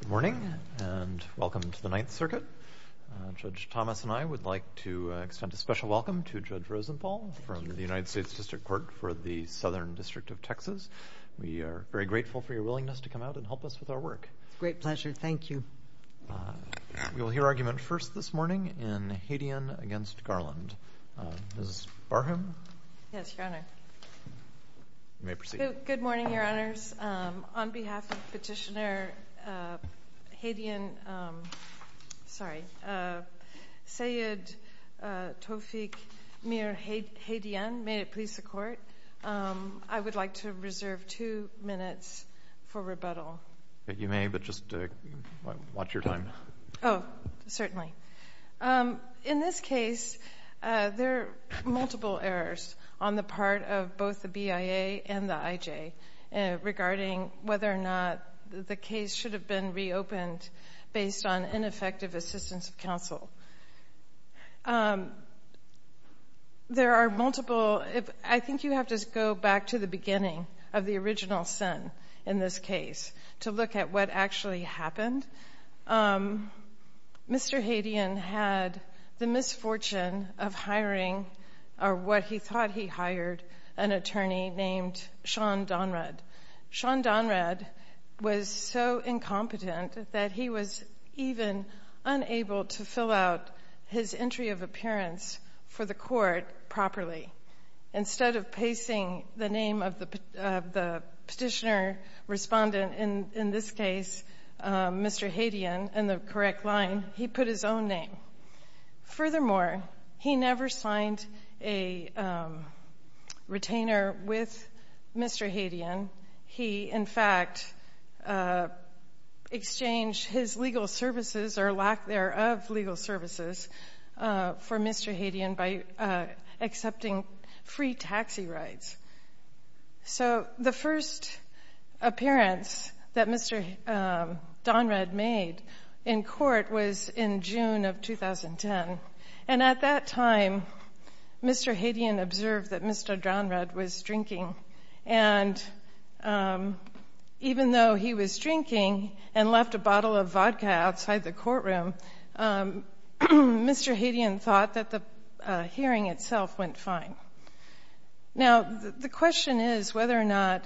Good morning and welcome to the Ninth Circuit. Judge Thomas and I would like to extend a special welcome to Judge Rosenthal from the United States District Court for the Southern District of Texas. We are very grateful for your willingness to come out and help us with our work. It's a great pleasure, thank you. We will hear argument first this morning in Hadian v. Garland. Ms. Barham. Yes, Your Honor. You may proceed. Good morning, Your Honors. On behalf of Petitioner Hadian, sorry, Seyed Tawfiq Mir Hadian, may it please the court, I would like to reserve two minutes for rebuttal. You may, but just watch your time. Oh, certainly. In this case, there are multiple errors on the part of both the BIA and the IJ regarding whether or not the case should have been reopened based on ineffective assistance of counsel. There are multiple, I think you have to go back to the beginning of the original sentence in this case to look at what actually happened. Mr. Hadian had the misfortune of hiring, or what he thought he hired, an attorney named Sean Donrad. Sean Donrad was so incompetent that he was even unable to fill out his entry of appearance for the court properly. Instead of pasting the name of the Petitioner respondent in this case, Mr. Hadian, in the correct line, he put his own name. Furthermore, he never signed a retainer with Mr. Hadian. He, in fact, exchanged his legal services or lack thereof legal services for Mr. Hadian by accepting free taxi rides. So the first appearance that Mr. Donrad made in court was in June of 2010. And at that time, Mr. Hadian observed that Mr. Donrad was drinking. And even though he was drinking and left a bottle of vodka outside the courtroom, Mr. Hadian thought that the hearing itself went fine. Now, the question is whether or not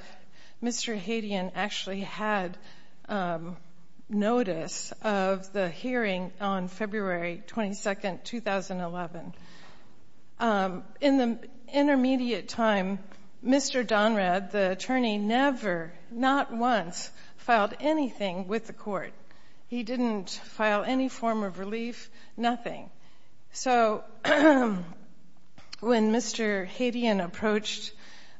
Mr. Hadian actually had notice of the hearing on February 22nd, 2011. In the intermediate time, Mr. Donrad, the attorney, never, not once, filed anything with the court. He didn't file any form of relief, nothing. So when Mr. Hadian approached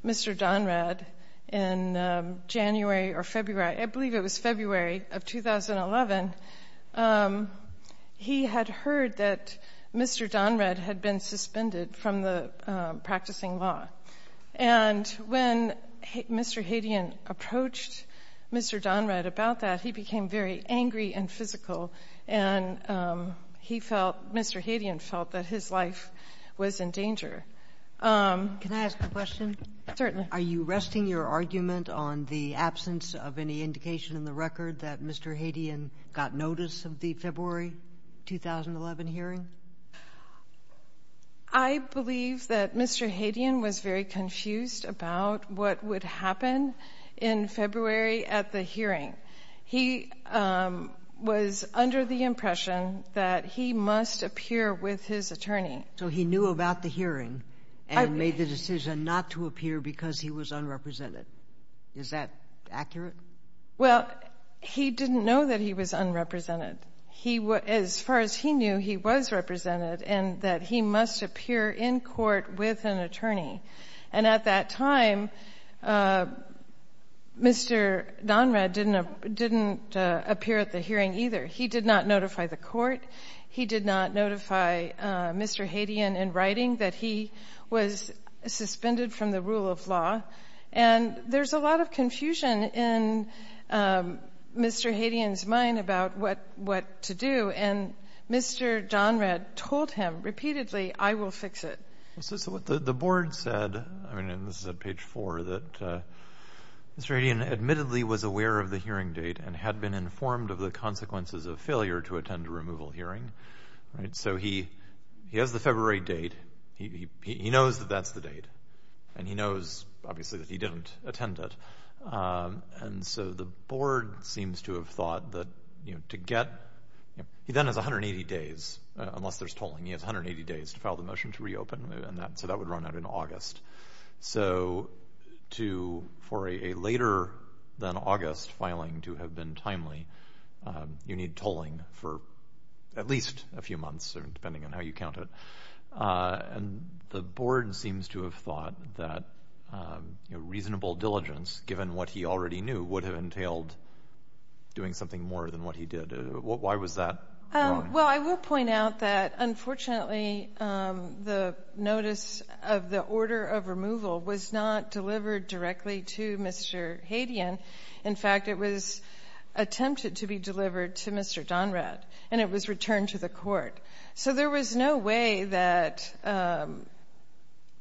Mr. Donrad in January or February, I think it was February of 2011, he had heard that Mr. Donrad had been suspended from the practicing law. And when Mr. Hadian approached Mr. Donrad about that, he became very angry and physical, and he felt, Mr. Hadian felt that his life was in danger. Can I ask a question? Certainly. Are you resting your argument on the absence of any indication in the record that Mr. Hadian got notice of the February 2011 hearing? I believe that Mr. Hadian was very confused about what would happen in February at the hearing. He was under the impression that he must appear with his attorney. So he knew about the hearing and made the decision not to appear because he was unrepresented. Is that accurate? Well, he didn't know that he was unrepresented. As far as he knew, he was represented and that he must appear in court with an attorney. And at that time, Mr. Donrad didn't appear at the hearing either. He did not notify the court. He did not notify Mr. Hadian in writing that he was suspended from the rule of law. And there's a lot of confusion in Mr. Hadian's mind about what to do. And Mr. Donrad told him repeatedly, I will fix it. So what the board said, I mean, this is at page four, that Mr. Hadian admittedly was aware of the hearing date and had been informed of the consequences of failure to attend a removal hearing. So he has the February date. He knows that that's the date. And he knows, obviously, that he didn't attend it. And so the board seems to have thought that to get, he then has 180 days, unless there's tolling, he has 180 days to file the motion to reopen. So that would run out in August. So for a later than August filing to have been timely, you need tolling for at least a few months, depending on how you count it. And the board seems to have thought that reasonable diligence, given what he already knew, would have entailed doing something more than what he did. Why was that wrong? Well, I will point out that, unfortunately, the notice of the order of removal was not delivered directly to Mr. Hadian. In fact, it was attempted to be delivered to Mr. Donrad, and it was returned to the court. So there was no way that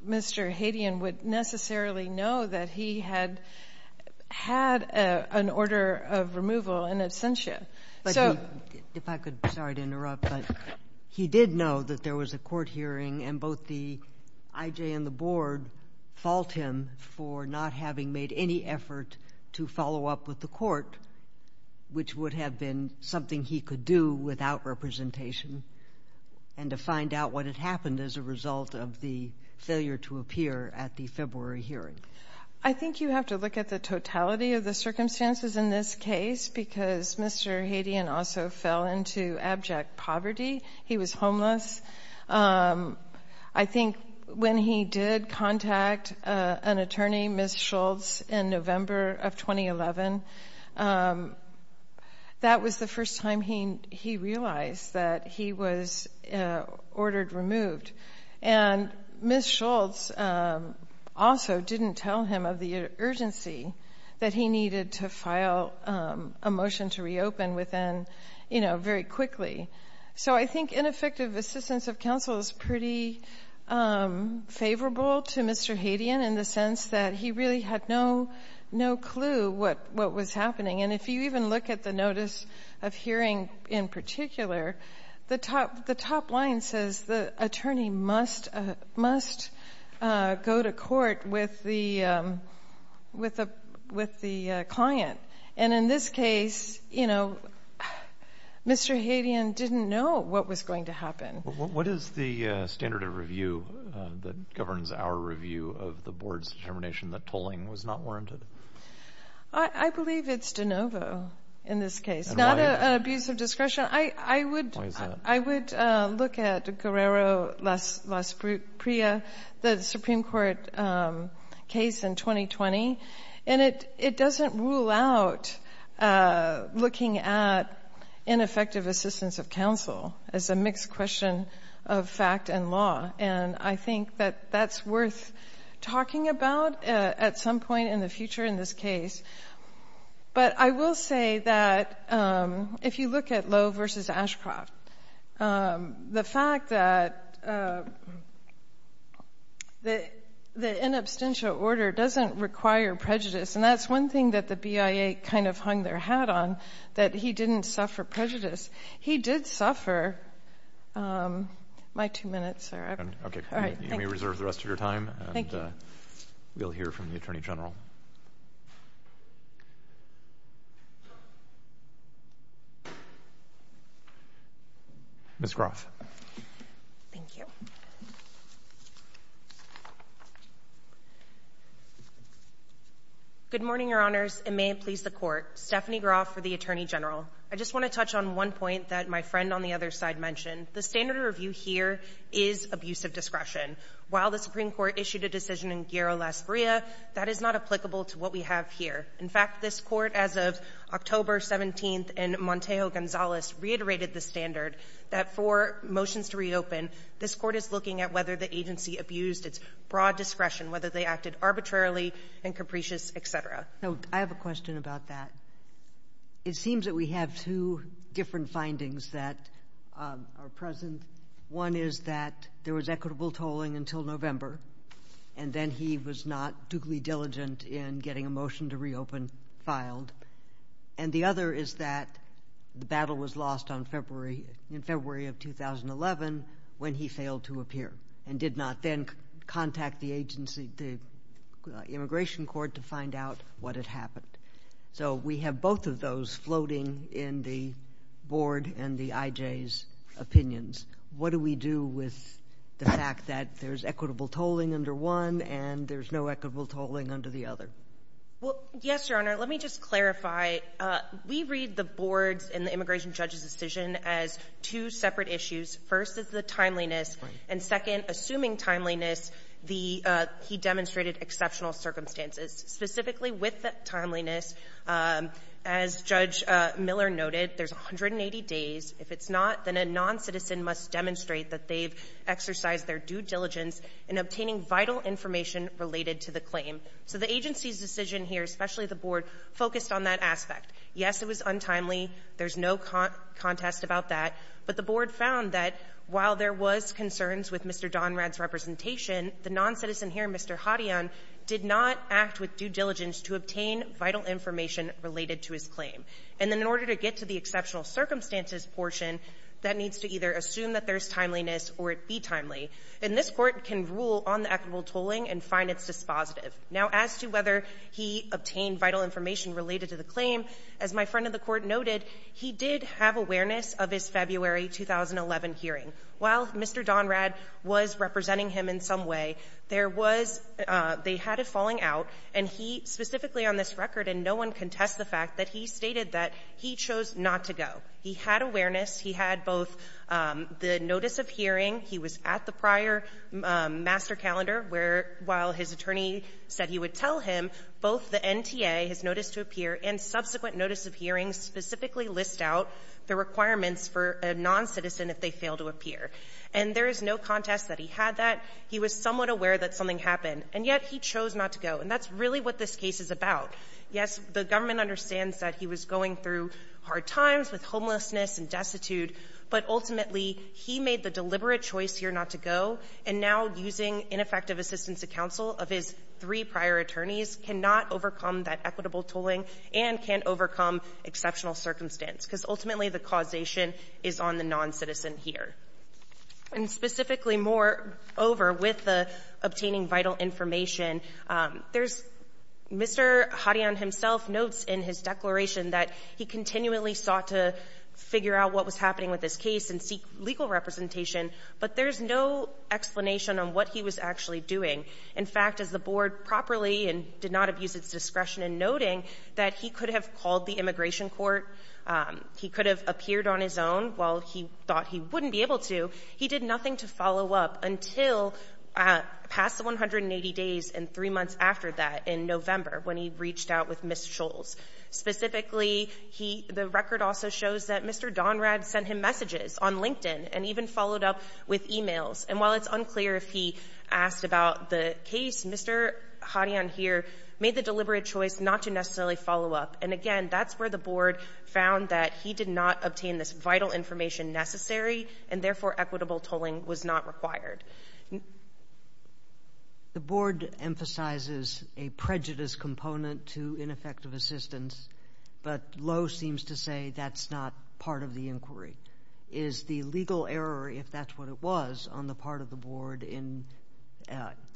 Mr. Hadian would necessarily know that he had had an order of removal in absentia. But he did know that there was a court hearing, and both the IJ and the board fault him for not having made any effort to follow up with the court, which would have been something he could do without representation, and to find out what had happened as a result of the failure to appear at the February hearing. I think you have to look at the totality of the circumstances in this case, because Mr. Hadian also fell into abject poverty. He was homeless. I think when he did contact an attorney, Ms. Schultz, in November of 2011, that was the first time he realized that he was ordered removed. And Ms. Schultz also didn't tell him of the urgency that he needed to file a motion to reopen very quickly. So I think ineffective assistance of counsel is pretty favorable to Mr. Hadian in the sense that he really had no clue what was happening. And if you even look at the notice of hearing in particular, the top line says the attorney must go to court with the client. And in this case, you know, Mr. Hadian didn't know what was going to happen. What is the standard of review that governs our review of the board's determination that tolling was not warranted? I believe it's de novo in this case, not an abuse of discretion. I would look at Guerrero-Lasprilla, the Supreme Court case in 2020, and it doesn't rule out looking at ineffective assistance of counsel as a mixed question of fact and law. And I think that that's worth talking about at some point in the future in this case. But I will say that if you look at Lowe v. Ashcroft, the fact that the inabstential order doesn't require prejudice, and that's one thing that the BIA kind of hung their hat on, that he didn't suffer prejudice. He did suffer. My two minutes are up. All right. Thank you. You may reserve the rest of your time. And we'll hear from the Attorney General. Ms. Groff. Thank you. Good morning, Your Honors, and may it please the Court. Stephanie Groff for the Attorney General. I just want to touch on one point that my friend on the other side mentioned. The standard of review here is abuse of discretion. While the Supreme Court issued a decision in Guerrero-Lasprilla, that is not applicable to what we have here. In fact, this Court, as of October 17th in Montejo-Gonzalez, reiterated the standard that for motions to reopen, this Court is looking at whether the agency abused its broad discretion, whether they acted arbitrarily and capricious, et cetera. No. I have a question about that. It seems that we have two different findings that are present. One is that there was equitable tolling until November, and then he was not duly diligent in getting a motion to reopen filed. And the other is that the battle was lost in February of 2011 when he failed to appear and did not then contact the immigration court to find out what had happened. So we have both of those floating in the Board and the IJ's opinions. What do we do with the fact that there's equitable tolling under one and there's no equitable tolling under the other? Well, yes, Your Honor. Let me just clarify. We read the boards in the immigration judge's decision as two separate issues. First is the timeliness. And second, assuming timeliness, he demonstrated exceptional circumstances. Specifically with that timeliness, as Judge Miller noted, there's 180 days. If it's not, then a noncitizen must demonstrate that they've exercised their due diligence in obtaining vital information related to the claim. So the agency's decision here, especially the Board, focused on that aspect. Yes, it was untimely. There's no contest about that. But the Board found that while there was concerns with Mr. Donrad's representation, the noncitizen here, Mr. Hadian, did not act with due diligence to obtain vital information related to his claim. And then in order to get to the exceptional circumstances portion, that needs to either assume that there's timeliness or it be timely. And this Court can rule on the equitable tolling and find its dispositive. Now, as to whether he obtained vital information related to the claim, as my friend of the Court noted, he did have awareness of his February 2011 hearing. While Mr. Donrad was representing him in some way, there was they had a falling out, and he specifically on this record, and no one contests the fact, that he stated that he chose not to go. He had awareness. He had both the notice of hearing. He was at the prior master calendar where, while his attorney said he would tell him, both the NTA, his notice to appear, and subsequent notice of hearing specifically list out the requirements for a noncitizen if they fail to appear. And there is no contest that he had that. He was somewhat aware that something happened, and yet he chose not to go. And that's really what this case is about. Yes, the government understands that he was going through hard times with homelessness and destitute, but ultimately, he made the deliberate choice here not to go. And now, using ineffective assistance to counsel of his three prior attorneys, cannot overcome that equitable tolling and can't overcome exceptional circumstance, because ultimately the causation is on the noncitizen here. And specifically, moreover, with the obtaining vital information, there's Mr. Hadian himself notes in his declaration that he continually sought to figure out what was happening with this case and seek legal representation, but there's no explanation on what he was actually doing. In fact, as the board properly and did not abuse its discretion in noting that he could have called the immigration court, he could have appeared on his own while he thought he wouldn't be able to, he did nothing to follow up until past the 180 days and three months after that in November when he reached out with Ms. Scholes. Specifically, the record also shows that Mr. Donrad sent him messages on LinkedIn and even followed up with e-mails. And while it's unclear if he asked about the case, Mr. Hadian here made the deliberate choice not to necessarily follow up. And again, that's where the board found that he did not obtain this vital information necessary, and therefore equitable tolling was not required. The board emphasizes a prejudice component to ineffective assistance, but Lowe seems to say that's not part of the inquiry. Is the legal error, if that's what it was, on the part of the board in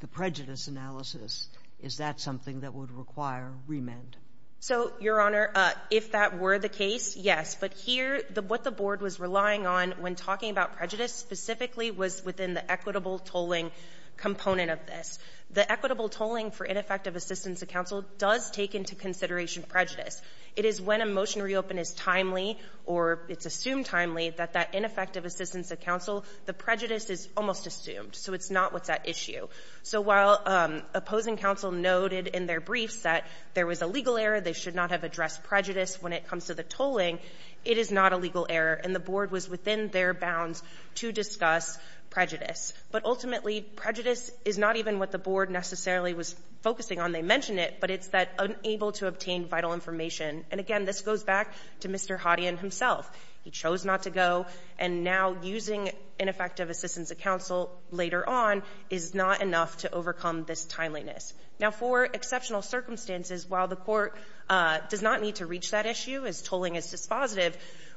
the prejudice analysis, is that something that would require remand? So, Your Honor, if that were the case, yes. But here, what the board was relying on when talking about prejudice specifically was within the equitable tolling component of this. The equitable tolling for ineffective assistance of counsel does take into consideration prejudice. It is when a motion to reopen is timely or it's assumed timely that that ineffective assistance of counsel, the prejudice is almost assumed. So it's not what's at issue. So while opposing counsel noted in their briefs that there was a legal error, they should not have addressed prejudice when it comes to the tolling, it is not a legal error, and the board was within their bounds to discuss prejudice. But ultimately, prejudice is not even what the board necessarily was focusing on. They mentioned it, but it's that unable to obtain vital information. And again, this goes back to Mr. Hodion himself. He chose not to go, and now using ineffective assistance of counsel later on is not enough to overcome this timeliness. Now, for exceptional circumstances, while the Court does not need to reach that issue as tolling is dispositive,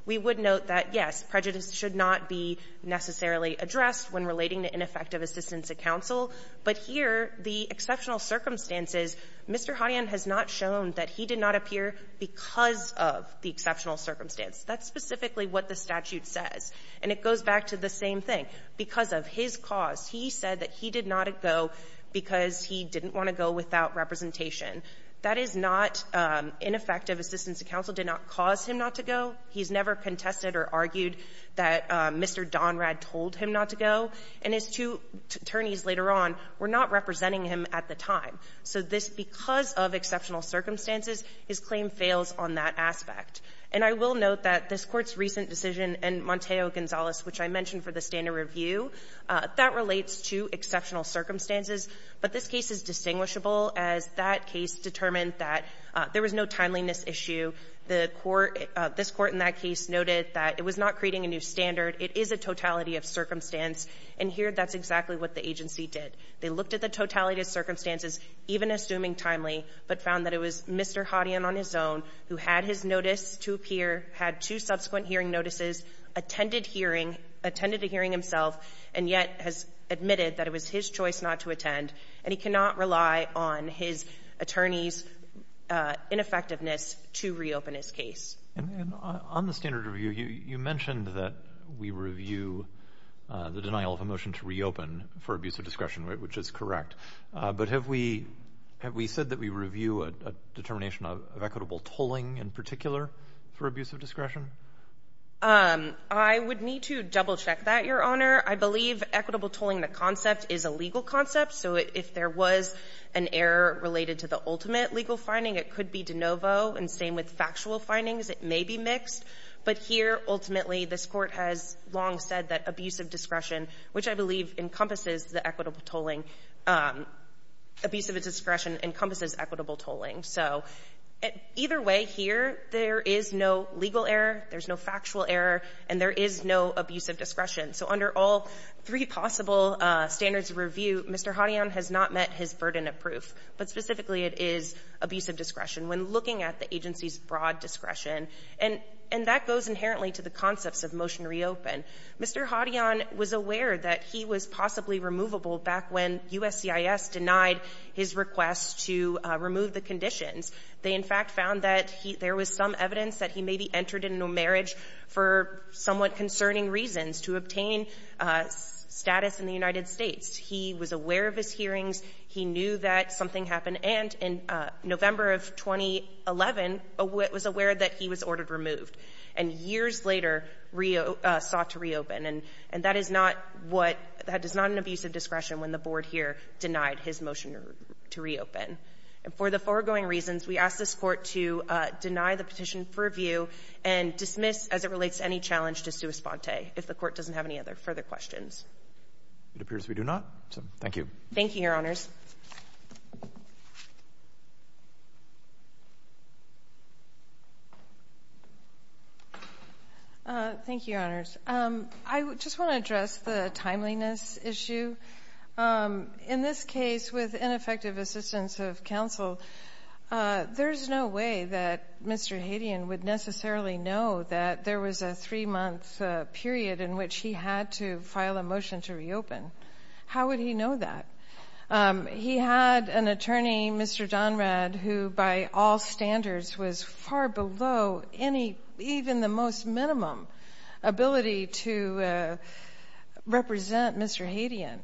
we would note that, yes, prejudice should not be necessarily addressed when relating to ineffective assistance of counsel, but here the exceptional circumstances, Mr. Hodion has not shown that he did not appear because of the exceptional circumstance. That's specifically what the statute says. And it goes back to the same thing. Because of his cause, he said that he did not go because he didn't want to go without representation. That is not ineffective assistance of counsel did not cause him not to go. He's never contested or argued that Mr. Donrad told him not to go. And his two attorneys later on were not representing him at the time. So this, because of exceptional circumstances, his claim fails on that aspect. And I will note that this Court's recent decision in Monteo-Gonzalez, which I mentioned for the standard review, that relates to exceptional circumstances. But this case is distinguishable as that case determined that there was no timeliness issue. The Court, this Court in that case noted that it was not creating a new standard. It is a totality of circumstance. And here that's exactly what the agency did. They looked at the totality of circumstances, even assuming timely, but found that it was Mr. Hodion on his own who had his notice to appear, had two subsequent hearing notices, attended hearing, attended a hearing himself, and yet has admitted that it was his choice not to attend, and he cannot rely on his attorney's ineffectiveness to reopen his case. And on the standard review, you mentioned that we review the denial of a motion to reopen for abuse of discretion, which is correct. But have we said that we review a determination of equitable tolling in particular for abuse of discretion? I would need to double-check that, Your Honor. I believe equitable tolling, the concept, is a legal concept. So if there was an error related to the ultimate legal finding, it could be de novo and same with factual findings. It may be mixed. But here, ultimately, this Court has long said that abuse of discretion, which I believe encompasses the equitable tolling, abuse of discretion encompasses equitable tolling. So either way here, there is no legal error, there's no factual error, and there is no abuse of discretion. So under all three possible standards of review, Mr. Hadian has not met his burden of proof, but specifically it is abuse of discretion. When looking at the agency's broad discretion, and that goes inherently to the concepts of motion to reopen, Mr. Hadian was aware that he was possibly removable back when USCIS denied his request to remove the conditions. They, in fact, found that there was some evidence that he maybe entered into a marriage for somewhat concerning reasons to obtain status in the United States. He was aware of his hearings. He knew that something happened. And in November of 2011, was aware that he was ordered removed. And years later, sought to reopen. And that is not what — that is not an abuse of discretion when the Board here denied his motion to reopen. And for the foregoing reasons, we ask this Court to deny the as it relates to any challenge to sua sponte, if the Court doesn't have any other further questions. It appears we do not. Thank you. Thank you, Your Honors. Thank you, Your Honors. I just want to address the timeliness issue. In this case, with ineffective assistance of counsel, there's no way that Mr. Hadian would necessarily know that there was a three-month period in which he had to file a motion to reopen. How would he know that? He had an attorney, Mr. Donrad, who, by all standards, was far below any — even the most minimum ability to represent Mr. Hadian.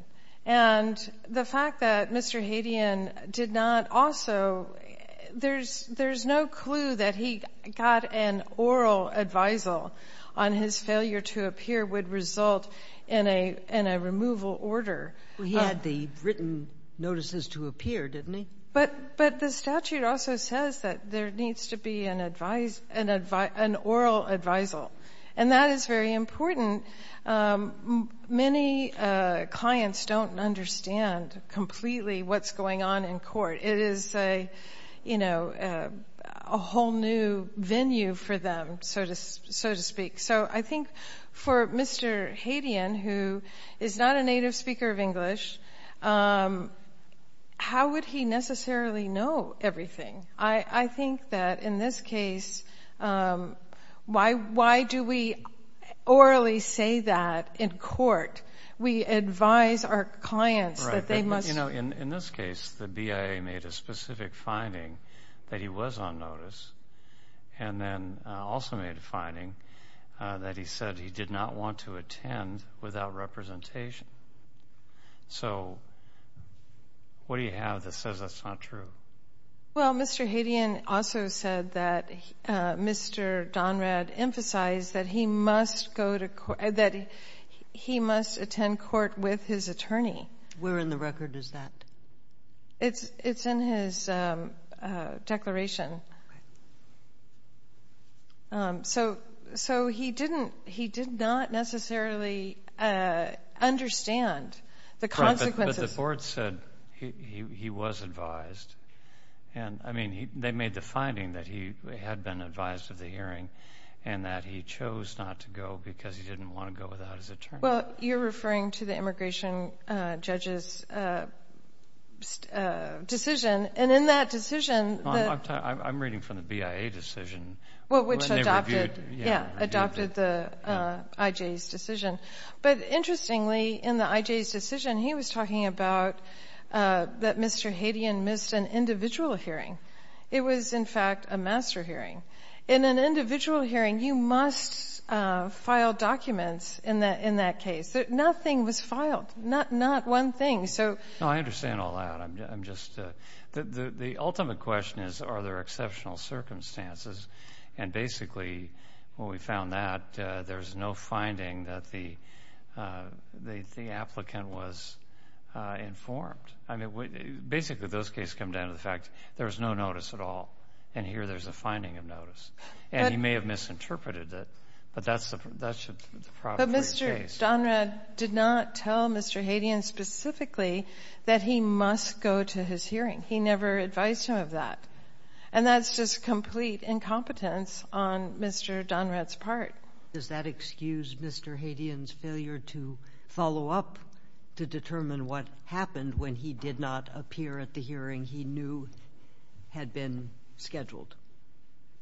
And the fact that Mr. Hadian did not also — there's no clue that he got an oral advisal on his failure to appear would result in a removal order. Well, he had the written notices to appear, didn't he? But the statute also says that there needs to be an oral advisal. And that is very important. Many clients don't understand completely what's going on in court. It is a whole new venue for them, so to speak. So I think for Mr. Hadian, who is not a native speaker of English, how would he necessarily know everything? I think that in this case, why do we orally say that in court? We advise our clients that they must — In this case, the BIA made a specific finding that he was on notice and then also made a finding that he said he did not want to attend without representation. So what do you have that says that's not true? Well, Mr. Hadian also said that Mr. Donrad emphasized that he must go to — that he must attend court with his attorney. Where in the record is that? It's in his declaration. So he did not necessarily understand the consequences. But the board said he was advised. They made the finding that he had been advised of the hearing and that he chose not to go because he didn't want to go without his attorney. Well, you're referring to the immigration judge's decision. And in that decision — I'm reading from the BIA decision. Well, which adopted the IJ's decision. But interestingly, in the IJ's decision, he was talking about that Mr. Hadian missed an individual hearing. It was, in fact, a master hearing. In an individual hearing, you must file documents in that case. Nothing was filed, not one thing. No, I understand all that. I'm just — the ultimate question is are there exceptional circumstances. And basically, when we found that, there's no finding that the applicant was informed. I mean, basically, those cases come down to the fact there was no notice at all. And here there's a finding of notice. And he may have misinterpreted it, but that's the proper case. Mr. Donrad did not tell Mr. Hadian specifically that he must go to his hearing. He never advised him of that. And that's just complete incompetence on Mr. Donrad's part. Does that excuse Mr. Hadian's failure to follow up to determine what happened when he did not appear at the hearing he knew had been scheduled?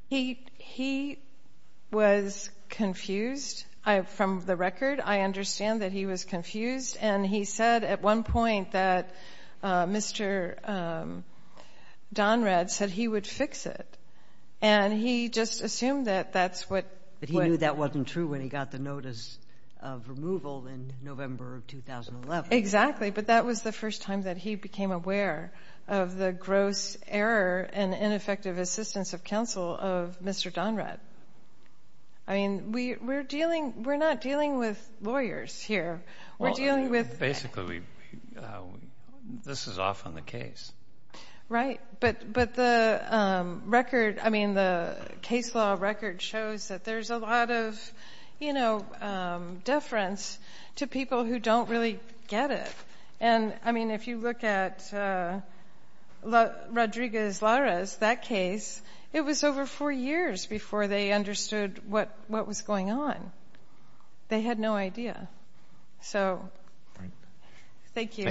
He was confused. From the record, I understand that he was confused. And he said at one point that Mr. Donrad said he would fix it. And he just assumed that that's what — But he knew that wasn't true when he got the notice of removal in November of 2011. Exactly, but that was the first time that he became aware of the gross error and ineffective assistance of counsel of Mr. Donrad. I mean, we're not dealing with lawyers here. Basically, this is often the case. Right, but the case law record shows that there's a lot of deference to people who don't really get it. And, I mean, if you look at Rodriguez-Larez, that case, it was over four years before they understood what was going on. They had no idea. So thank you.